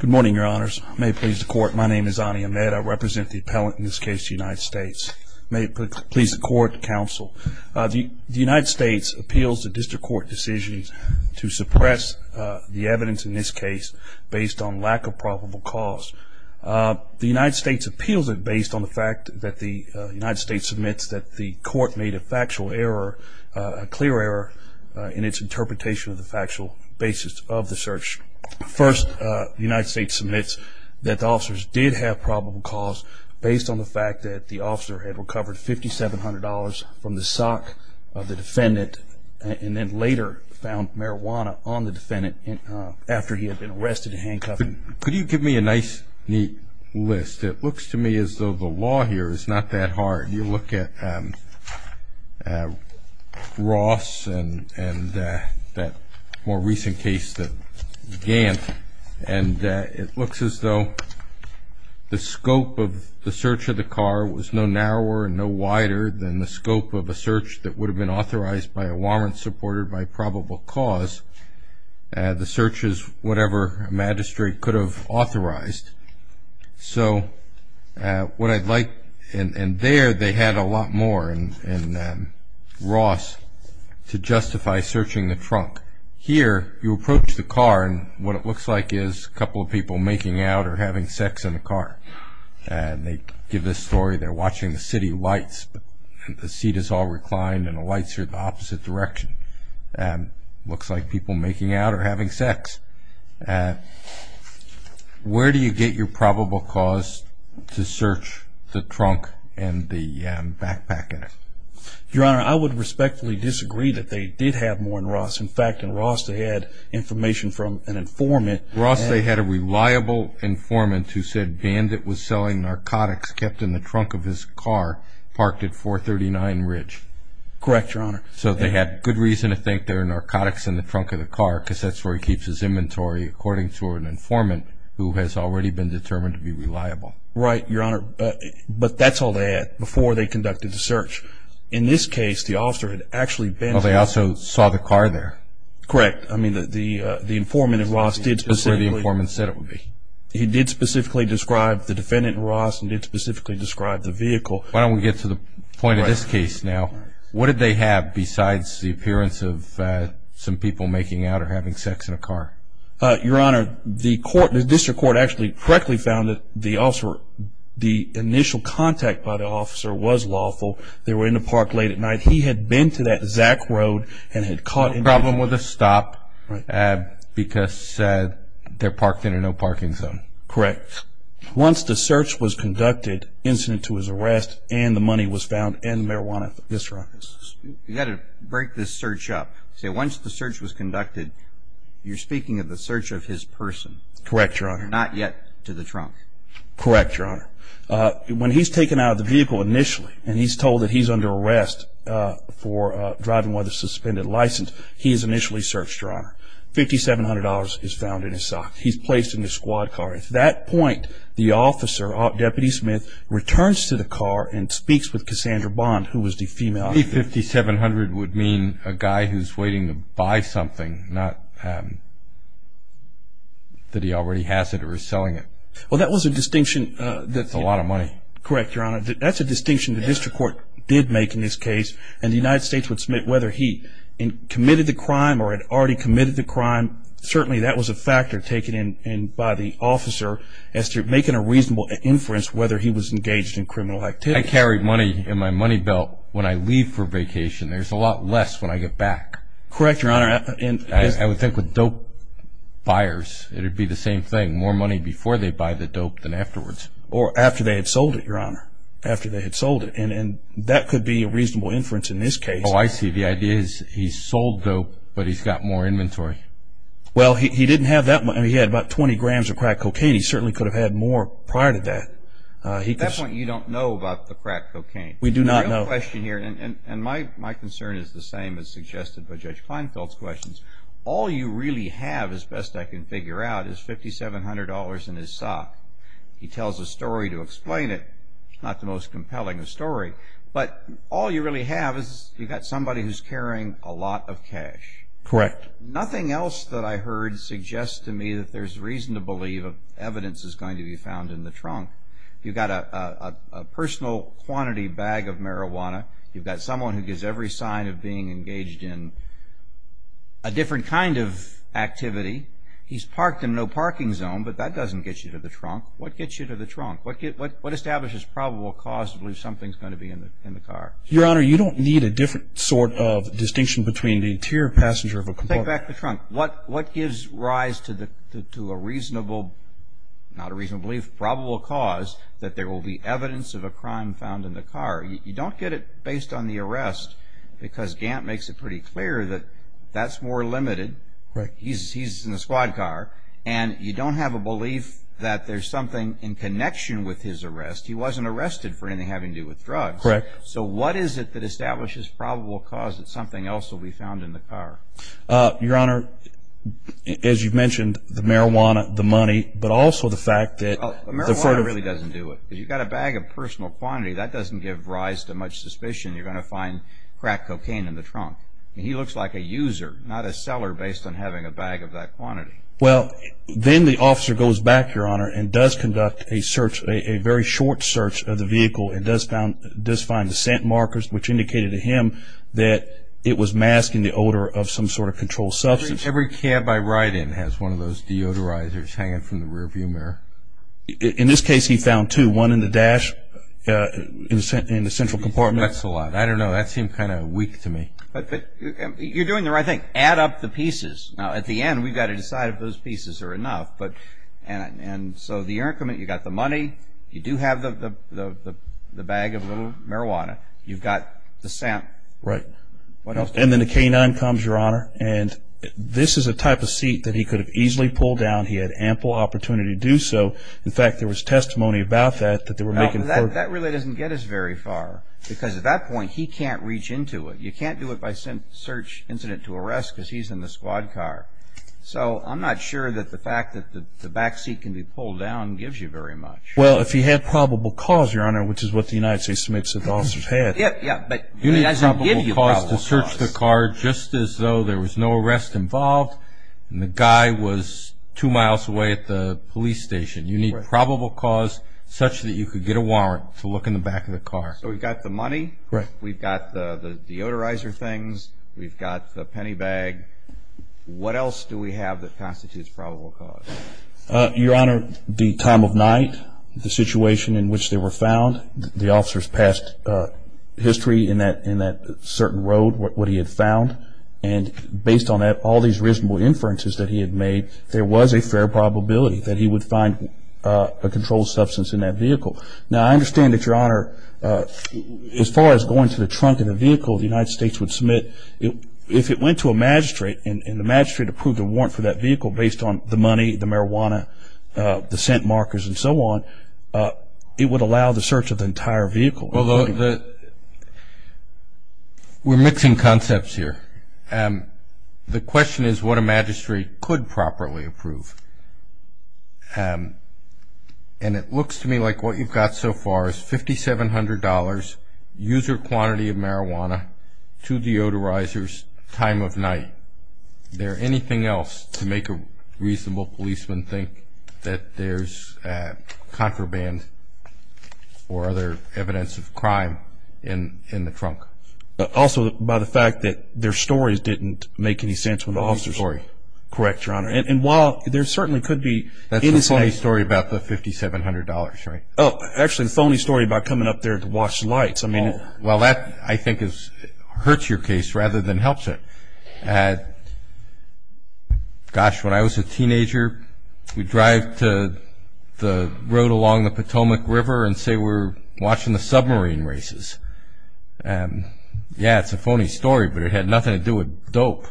Good morning, your honors. May it please the court, my name is Ani Ahmed. I represent the appellant in this case, the United States. May it please the court, counsel. The United States appeals the district court decision to suppress the evidence in this case based on lack of probable cause. The United States appeals it based on the fact that the United States admits that the court made a factual error, a clear error in its interpretation of the factual basis of the search. First, the United States admits that the officers did have probable cause based on the fact that the officer had recovered $5,700 from the sock of the defendant and then later found marijuana on the defendant after he had been arrested and handcuffed. Could you give me a nice, neat list? It looks to me as though the law here is not that hard. You look at Ross and that more recent case that Gant, and it looks as though the scope of the search of the car was no narrower and no wider than the scope of a search that would have been authorized by a warrant supported by probable cause. The search is whatever a magistrate could have authorized. So what I'd like, and there they had a lot more in Ross to justify searching the trunk. Here, you approach the car and what it looks like is a couple of people making out or having sex in the car. They give this story, they're watching the city lights and the seat is all reclined and the lights are in the opposite direction. It looks like people making out or having sex. Where do you get your probable cause to search the trunk and the backpack in it? Your Honor, I would respectfully disagree that they did have more in Ross. In fact, in Ross they had information from an informant. In Ross they had a reliable informant who said Bandit was selling narcotics kept in the trunk of his car parked at 439 Ridge. Correct, Your Honor. So they had good reason to think there were narcotics in the trunk of the car because that's where he keeps his inventory according to an informant who has already been determined to be reliable. Right, Your Honor. But that's all they had before they conducted the search. In this case, the officer had actually been there. They also saw the car there. Correct. That's where the informant said it would be. He did specifically describe the defendant in Ross and did specifically describe the vehicle. Why don't we get to the point of this case now. What did they have besides the appearance of some people making out or having sex in a car? Your Honor, the district court actually correctly found that the initial contact by the officer was lawful. They were in the park late at night. He had been to that Zack Road and had caught him. He had no problem with a stop because they're parked in a no-parking zone. Correct. Once the search was conducted, incident to his arrest and the money was found and marijuana at the district office. You've got to break this search up. Once the search was conducted, you're speaking of the search of his person. Correct, Your Honor. Not yet to the trunk. Correct, Your Honor. When he's taken out of the vehicle initially and he's told that he's under arrest for driving with a suspended license, he is initially searched, Your Honor. $5,700 is found in his sock. He's placed in the squad car. At that point, the officer, Deputy Smith, returns to the car and speaks with Cassandra Bond, who was the female. The $5,700 would mean a guy who's waiting to buy something, not that he already has it or is selling it. Well, that was a distinction. That's a lot of money. Correct, Your Honor. That's a distinction the district court did make in this case, and the United States would submit whether he committed the crime or had already committed the crime. Certainly, that was a factor taken in by the officer as to making a reasonable inference whether he was engaged in criminal activity. I carry money in my money belt when I leave for vacation. There's a lot less when I get back. Correct, Your Honor. I would think with dope buyers, it would be the same thing, more money before they buy the dope than afterwards. Or after they had sold it, Your Honor, after they had sold it. And that could be a reasonable inference in this case. Oh, I see. The idea is he's sold dope, but he's got more inventory. Well, he didn't have that much. I mean, he had about 20 grams of crack cocaine. He certainly could have had more prior to that. At that point, you don't know about the crack cocaine. We do not know. I have a question here, and my concern is the same as suggested by Judge Kleinfeld's questions. All you really have, as best I can figure out, is $5,700 in his sock. He tells a story to explain it. It's not the most compelling a story, but all you really have is you've got somebody who's carrying a lot of cash. Correct. Nothing else that I heard suggests to me that there's reason to believe evidence is going to be found in the trunk. You've got a personal quantity bag of marijuana. You've got someone who gives every sign of being engaged in a different kind of activity. He's parked in no parking zone, but that doesn't get you to the trunk. What gets you to the trunk? What establishes probable cause to believe something's going to be in the car? Your Honor, you don't need a different sort of distinction between the interior passenger of a compartment. Take back the trunk. What gives rise to a reasonable, not a reasonable belief, probable cause that there will be evidence of a crime found in the car? You don't get it based on the arrest because Gant makes it pretty clear that that's more limited. He's in a squad car, and you don't have a belief that there's something in connection with his arrest. He wasn't arrested for anything having to do with drugs. Correct. So what is it that establishes probable cause that something else will be found in the car? Your Honor, as you've mentioned, the marijuana, the money, but also the fact that... The marijuana really doesn't do it. If you've got a bag of personal quantity, that doesn't give rise to much suspicion you're going to find crack cocaine in the trunk. He looks like a user, not a seller, based on having a bag of that quantity. Well, then the officer goes back, Your Honor, and does conduct a search, a very short search of the vehicle and does find the scent markers, which indicated to him that it was masking the odor of some sort of controlled substance. Every cab I ride in has one of those deodorizers hanging from the rearview mirror. In this case, he found two, one in the dash in the central compartment. That's a lot. I don't know. That seemed kind of weak to me. You're doing the right thing. Add up the pieces. Now, at the end, we've got to decide if those pieces are enough. So you've got the money, you do have the bag of marijuana, you've got the scent. Right. And then the canine comes, Your Honor, and this is a type of seat that he could have easily pulled down. He had ample opportunity to do so. In fact, there was testimony about that, that they were making... That really doesn't get us very far, because at that point, he can't reach into it. You can't do it by search incident to arrest, because he's in the squad car. So I'm not sure that the fact that the back seat can be pulled down gives you very much. Well, if he had probable cause, Your Honor, which is what the United States submits to the officers had. Yeah, yeah. You need probable cause to search the car just as though there was no arrest involved and the guy was two miles away at the police station. You need probable cause such that you could get a warrant to look in the back of the car. So we've got the money. Right. We've got the deodorizer things. We've got the penny bag. What else do we have that constitutes probable cause? Your Honor, the time of night, the situation in which they were found. The officers passed history in that certain road, what he had found, and based on all these reasonable inferences that he had made, there was a fair probability that he would find a controlled substance in that vehicle. Now, I understand that, Your Honor, as far as going to the trunk of the vehicle, the United States would submit, if it went to a magistrate and the magistrate approved a warrant for that vehicle based on the money, the marijuana, the scent markers and so on, it would allow the search of the entire vehicle. We're mixing concepts here. The question is what a magistrate could properly approve. And it looks to me like what you've got so far is $5,700, user quantity of marijuana, two deodorizers, time of night. Is there anything else to make a reasonable policeman think that there's contraband or other evidence of crime in the trunk? Also by the fact that their stories didn't make any sense when the officers were there. Correct, Your Honor. And while there certainly could be innocent. That's the phony story about the $5,700, right? Actually, the phony story about coming up there to watch the lights. Well, that, I think, hurts your case rather than helps it. Gosh, when I was a teenager, we'd drive to the road along the Potomac River and say we're watching the submarine races. Yeah, it's a phony story, but it had nothing to do with dope.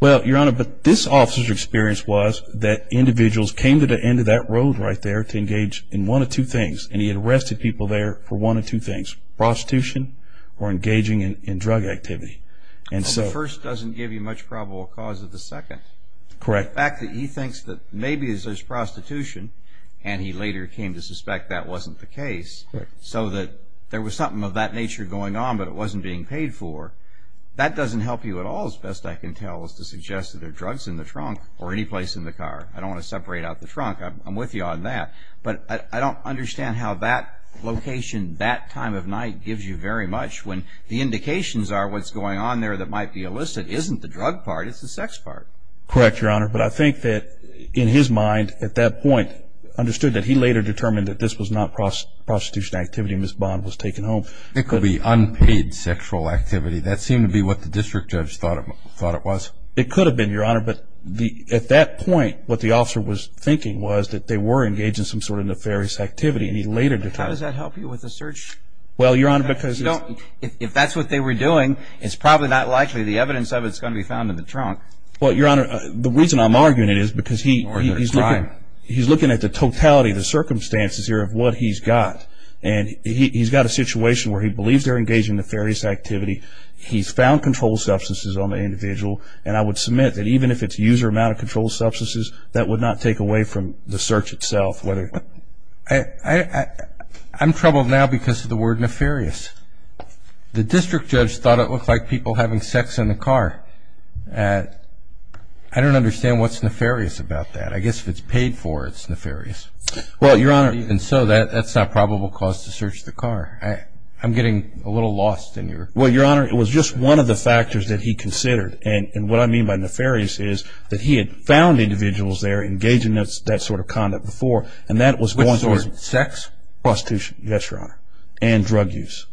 Well, Your Honor, but this officer's experience was that individuals came to the end of that road right there to engage in one of two things, and he arrested people there for one of two things, prostitution or engaging in drug activity. The first doesn't give you much probable cause of the second. Correct. The fact that he thinks that maybe there's prostitution, and he later came to suspect that wasn't the case, so that there was something of that nature going on but it wasn't being paid for, that doesn't help you at all, as best I can tell, is to suggest that there are drugs in the trunk or any place in the car. I don't want to separate out the trunk. I'm with you on that. But I don't understand how that location, that time of night, gives you very much when the indications are what's going on there that might be illicit isn't the drug part, it's the sex part. Correct, Your Honor. But I think that in his mind, at that point, understood that he later determined that this was not prostitution activity, and Ms. Bond was taken home. It could be unpaid sexual activity. That seemed to be what the district judge thought it was. It could have been, Your Honor, but at that point what the officer was thinking was that they were engaged in some sort of nefarious activity, and he later determined that. How does that help you with the search? Well, Your Honor, because it's... If that's what they were doing, it's probably not likely the evidence of it's going to be found in the trunk. Well, Your Honor, the reason I'm arguing it is because he's looking at the totality, the circumstances here of what he's got, and he's got a situation where he believes they're engaged in nefarious activity. He's found controlled substances on the individual, and I would submit that even if it's user amount of controlled substances, that would not take away from the search itself whether... I'm troubled now because of the word nefarious. The district judge thought it looked like people having sex in the car. I don't understand what's nefarious about that. I guess if it's paid for, it's nefarious. Well, Your Honor, even so, that's not probable cause to search the car. I'm getting a little lost in your... Well, Your Honor, it was just one of the factors that he considered, and what I mean by nefarious is that he had found individuals there engaging in that sort of conduct before, and that was one... Which was sex? Prostitution, yes, Your Honor, and drug use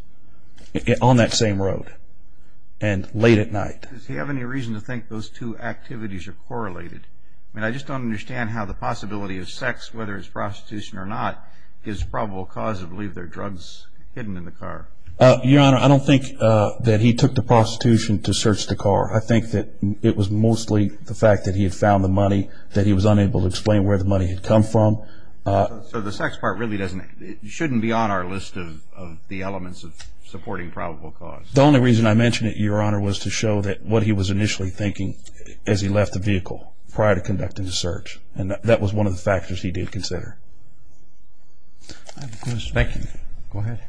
on that same road, and late at night. Does he have any reason to think those two activities are correlated? I just don't understand how the possibility of sex, whether it's prostitution or not, gives probable cause to believe there are drugs hidden in the car. Your Honor, I don't think that he took the prostitution to search the car. I think that it was mostly the fact that he had found the money, that he was unable to explain where the money had come from. So the sex part really doesn't... It shouldn't be on our list of the elements of supporting probable cause. The only reason I mention it, Your Honor, was to show what he was initially thinking as he left the vehicle prior to conducting the search, and that was one of the factors he did consider. I have a question. Thank you. Go ahead.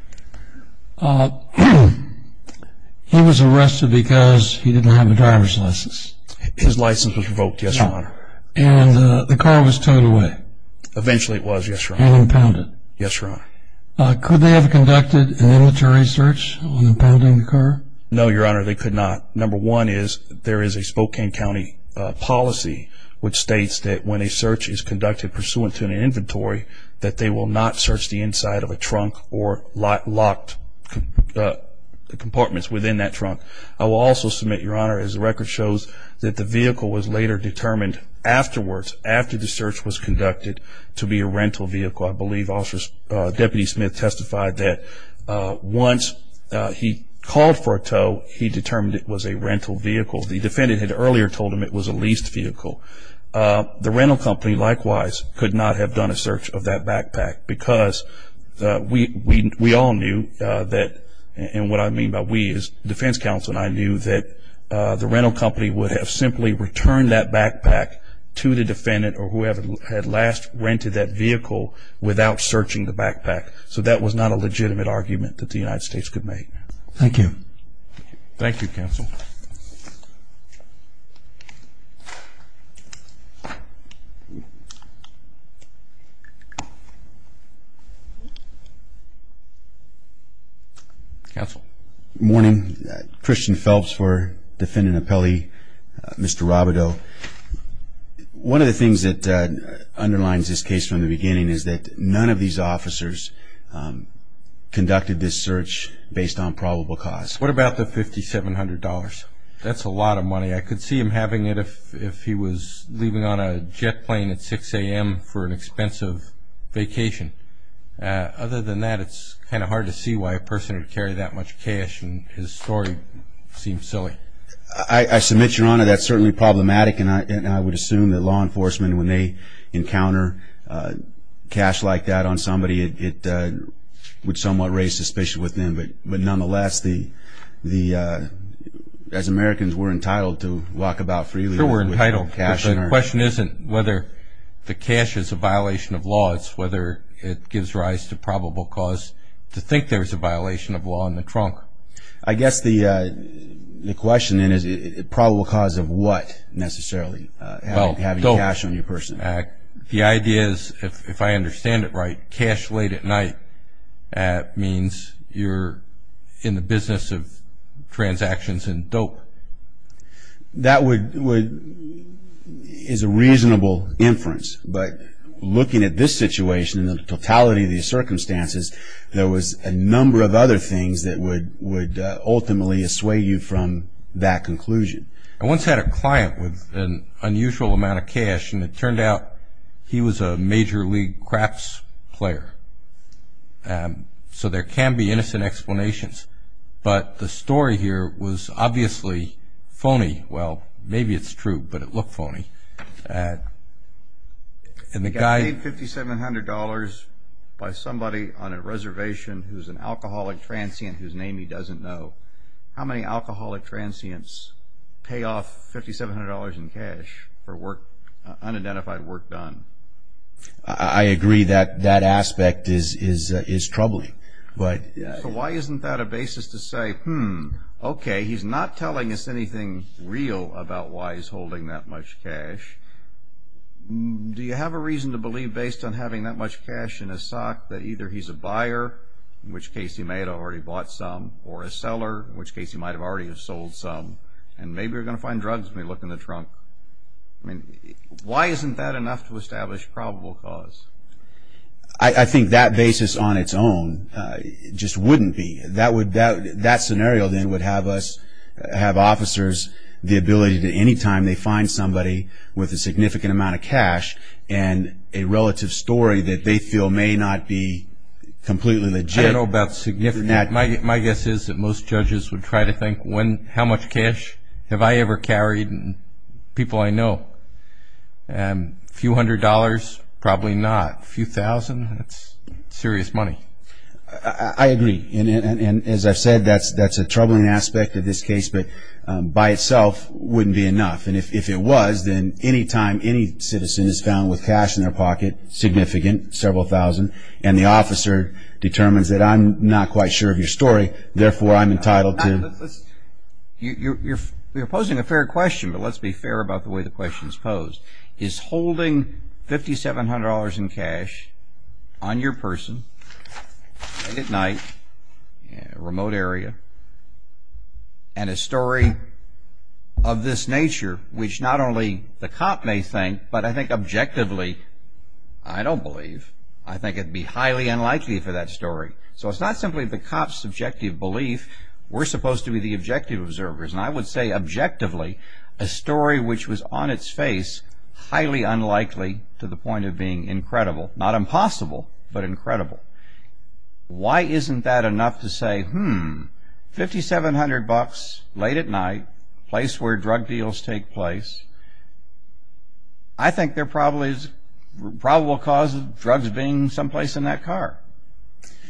He was arrested because he didn't have a driver's license. His license was revoked, yes, Your Honor. And the car was towed away. Eventually it was, yes, Your Honor. And impounded. Yes, Your Honor. Could they have conducted an inventory search on impounding the car? No, Your Honor, they could not. Number one is there is a Spokane County policy, which states that when a search is conducted pursuant to an inventory, that they will not search the inside of a trunk or locked compartments within that trunk. I will also submit, Your Honor, as the record shows that the vehicle was later determined afterwards, after the search was conducted, to be a rental vehicle. I believe Deputy Smith testified that once he called for a tow, he determined it was a rental vehicle. The defendant had earlier told him it was a leased vehicle. The rental company, likewise, could not have done a search of that backpack because we all knew that, and what I mean by we is defense counsel and I knew that the rental company would have simply returned that backpack to the defendant or whoever had last rented that vehicle without searching the backpack. So that was not a legitimate argument that the United States could make. Thank you. Thank you, counsel. Morning. Christian Phelps for Defendant Appellee. Mr. Robidoux. Counsel, one of the things that underlines this case from the beginning is that none of these officers conducted this search based on probable cause. What about the $5,700? That's a lot of money. I could see him having it if he was leaving on a jet plane at 6 a.m. for an expensive vacation. Other than that, it's kind of hard to see why a person would carry that much cash, and his story seems silly. I submit, Your Honor, that's certainly problematic, and I would assume that law enforcement, when they encounter cash like that on somebody, it would somewhat raise suspicion with them. But nonetheless, as Americans, we're entitled to walk about freely. We're entitled. The question isn't whether the cash is a violation of law. It's whether it gives rise to probable cause to think there's a violation of law in the trunk. I guess the question then is probable cause of what, necessarily, having cash on your person? The idea is, if I understand it right, cash late at night means you're in the business of transactions and dope. That is a reasonable inference, but looking at this situation and the totality of these circumstances, there was a number of other things that would ultimately assuage you from that conclusion. I once had a client with an unusual amount of cash, and it turned out he was a Major League Crafts player. So there can be innocent explanations. But the story here was obviously phony. Well, maybe it's true, but it looked phony. I paid $5,700 by somebody on a reservation who's an alcoholic transient whose name he doesn't know. How many alcoholic transients pay off $5,700 in cash for unidentified work done? I agree that that aspect is troubling. So why isn't that a basis to say, Hmm, okay, he's not telling us anything real about why he's holding that much cash. Do you have a reason to believe, based on having that much cash in his sock, that either he's a buyer, in which case he may have already bought some, or a seller, in which case he might have already sold some, and maybe we're going to find drugs when we look in the trunk? Why isn't that enough to establish probable cause? I think that basis on its own just wouldn't be. That scenario, then, would have officers the ability to, anytime they find somebody with a significant amount of cash and a relative story that they feel may not be completely legit. I don't know about significant. My guess is that most judges would try to think, How much cash have I ever carried and people I know? A few hundred dollars? Probably not. A few thousand? That's serious money. I agree. As I've said, that's a troubling aspect of this case, but by itself wouldn't be enough. If it was, then anytime any citizen is found with cash in their pocket, significant, several thousand, and the officer determines that I'm not quite sure of your story, therefore I'm entitled to... You're posing a fair question, but let's be fair about the way the question is posed. Is holding $5,700 in cash on your person, late at night, remote area, and a story of this nature, which not only the cop may think, but I think objectively, I don't believe. I think it would be highly unlikely for that story. So it's not simply the cop's subjective belief. We're supposed to be the objective observers. And I would say objectively, a story which was on its face, highly unlikely to the point of being incredible. Not impossible, but incredible. Why isn't that enough to say, hmm, $5,700, late at night, place where drug deals take place, I think there probably is probable cause of drugs being someplace in that car.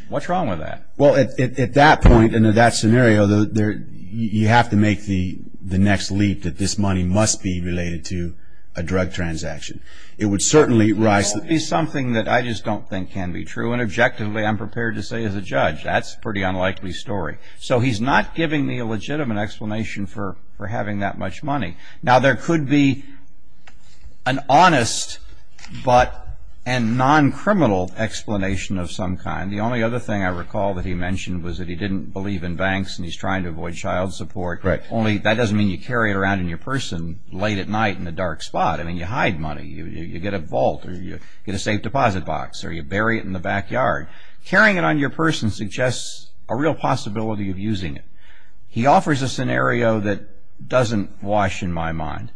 What's wrong with that? Well, at that point and in that scenario, you have to make the next leap that this money must be related to a drug transaction. It would certainly rise... It would be something that I just don't think can be true. And objectively, I'm prepared to say as a judge, that's a pretty unlikely story. So he's not giving me a legitimate explanation for having that much money. Now, there could be an honest but a non-criminal explanation of some kind. The only other thing I recall that he mentioned was that he didn't believe in banks and he's trying to avoid child support. That doesn't mean you carry it around in your purse late at night in a dark spot. I mean, you hide money. You get a vault or you get a safe deposit box or you bury it in the backyard. Carrying it on your purse suggests a real possibility of using it. He offers a scenario that doesn't wash in my mind.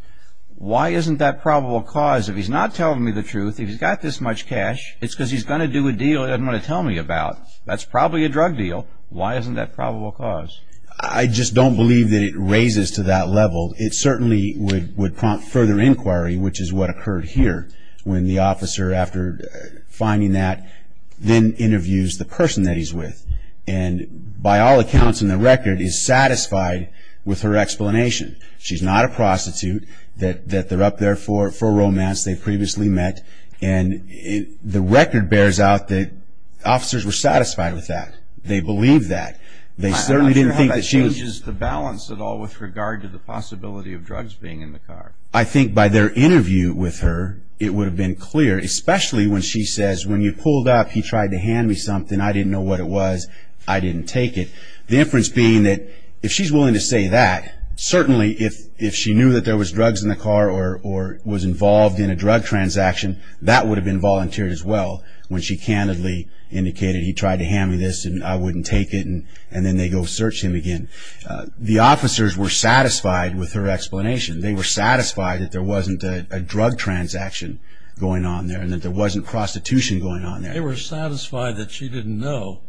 Why isn't that probable cause, if he's not telling me the truth, if he's got this much cash, it's because he's going to do a deal he doesn't want to tell me about. That's probably a drug deal. Why isn't that probable cause? I just don't believe that it raises to that level. It certainly would prompt further inquiry, which is what occurred here, when the officer, after finding that, then interviews the person that he's with and, by all accounts and the record, is satisfied with her explanation. She's not a prostitute, that they're up there for romance, they've previously met, and the record bears out that officers were satisfied with that. They believe that. They certainly didn't think that she was... I don't know how that changes the balance at all with regard to the possibility of drugs being in the car. I think by their interview with her, it would have been clear, especially when she says, when you pulled up, he tried to hand me something, I didn't know what it was, I didn't take it. The inference being that, if she's willing to say that, certainly if she knew that there was drugs in the car or was involved in a drug transaction, that would have been volunteered as well, when she candidly indicated, he tried to hand me this and I wouldn't take it, and then they go search him again. The officers were satisfied with her explanation. They were satisfied that there wasn't a drug transaction going on there and that there wasn't prostitution going on there. They were satisfied that she didn't know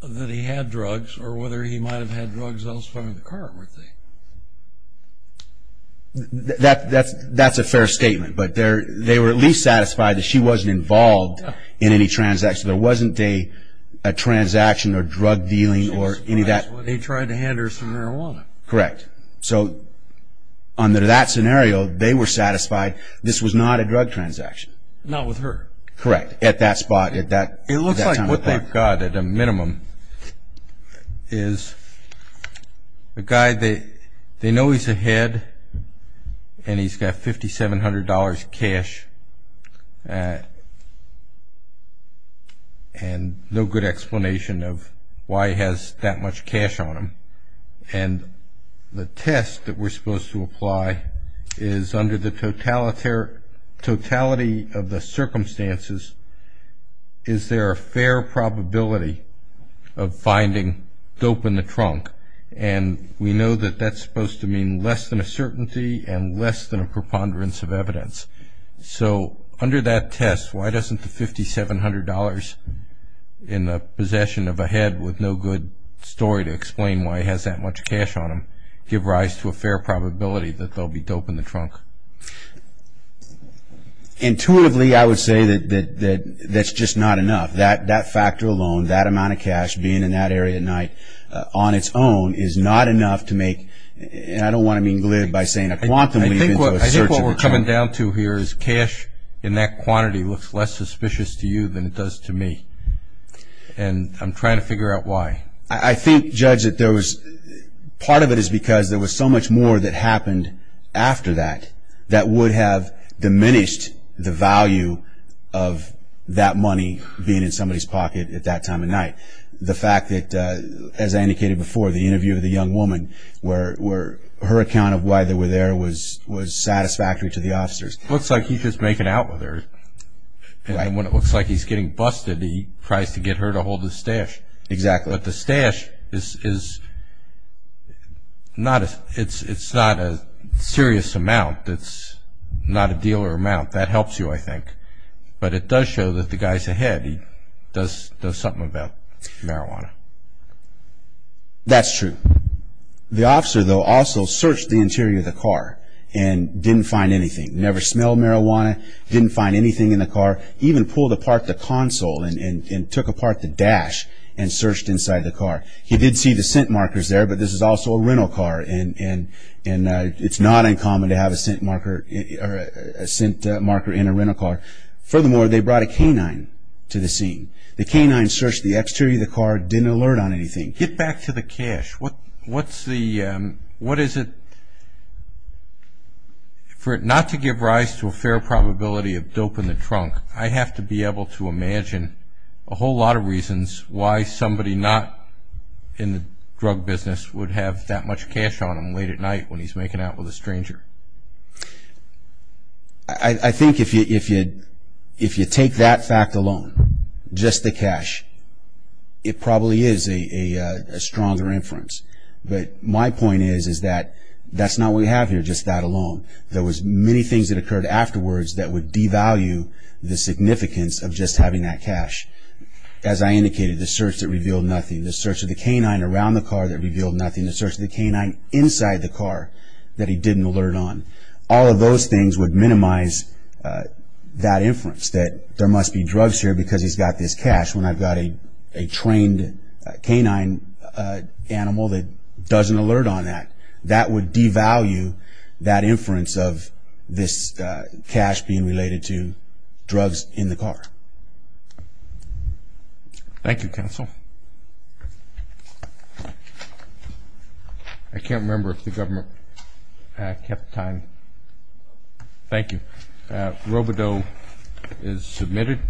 that he had drugs or whether he might have had drugs elsewhere in the car, weren't they? That's a fair statement, but they were at least satisfied that she wasn't involved in any transaction. There wasn't a transaction or drug dealing or any of that. They tried to hand her some marijuana. Correct. So under that scenario, they were satisfied this was not a drug transaction. Not with her. Correct. At that spot, at that time and place. What we have got, at a minimum, is a guy, they know he's ahead and he's got $5,700 cash and no good explanation of why he has that much cash on him. And the test that we're supposed to apply is under the totality of the circumstances, is there a fair probability of finding dope in the trunk? And we know that that's supposed to mean less than a certainty and less than a preponderance of evidence. So under that test, why doesn't the $5,700 in the possession of a head with no good story to explain why he has that much cash on him give rise to a fair probability that there will be dope in the trunk? Intuitively, I would say that that's just not enough. That factor alone, that amount of cash being in that area at night on its own, is not enough to make, and I don't want to be included by saying a quantum leap. I think what we're coming down to here is cash in that quantity looks less suspicious to you than it does to me. And I'm trying to figure out why. I think, Judge, that part of it is because there was so much more that happened after that that would have diminished the value of that money being in somebody's pocket at that time of night. The fact that, as I indicated before, the interview of the young woman, her account of why they were there was satisfactory to the officers. Looks like he's just making out with her. And when it looks like he's getting busted, he tries to get her to hold his stash. Exactly. But the stash is not a serious amount. It's not a deal or amount. That helps you, I think. But it does show that the guy's ahead. He does something about marijuana. That's true. The officer, though, also searched the interior of the car and didn't find anything. Never smelled marijuana, didn't find anything in the car. He even pulled apart the console and took apart the dash and searched inside the car. He did see the scent markers there, but this is also a rental car, and it's not uncommon to have a scent marker in a rental car. Furthermore, they brought a canine to the scene. The canine searched the exterior of the car, didn't alert on anything. Get back to the cash. For it not to give rise to a fair probability of dope in the trunk, I have to be able to imagine a whole lot of reasons why somebody not in the drug business would have that much cash on them late at night when he's making out with a stranger. I think if you take that fact alone, just the cash, it probably is a stronger inference. But my point is that that's not what we have here, just that alone. There was many things that occurred afterwards that would devalue the significance of just having that cash. As I indicated, the search that revealed nothing, the search of the canine around the car that revealed nothing, the search of the canine inside the car that he didn't alert on, all of those things would minimize that inference that there must be drugs here because he's got this cash. When I've got a trained canine animal that doesn't alert on that, that would devalue that inference of this cash being related to drugs in the car. Thank you, counsel. I can't remember if the government kept time. Thank you. Robodeau is submitted.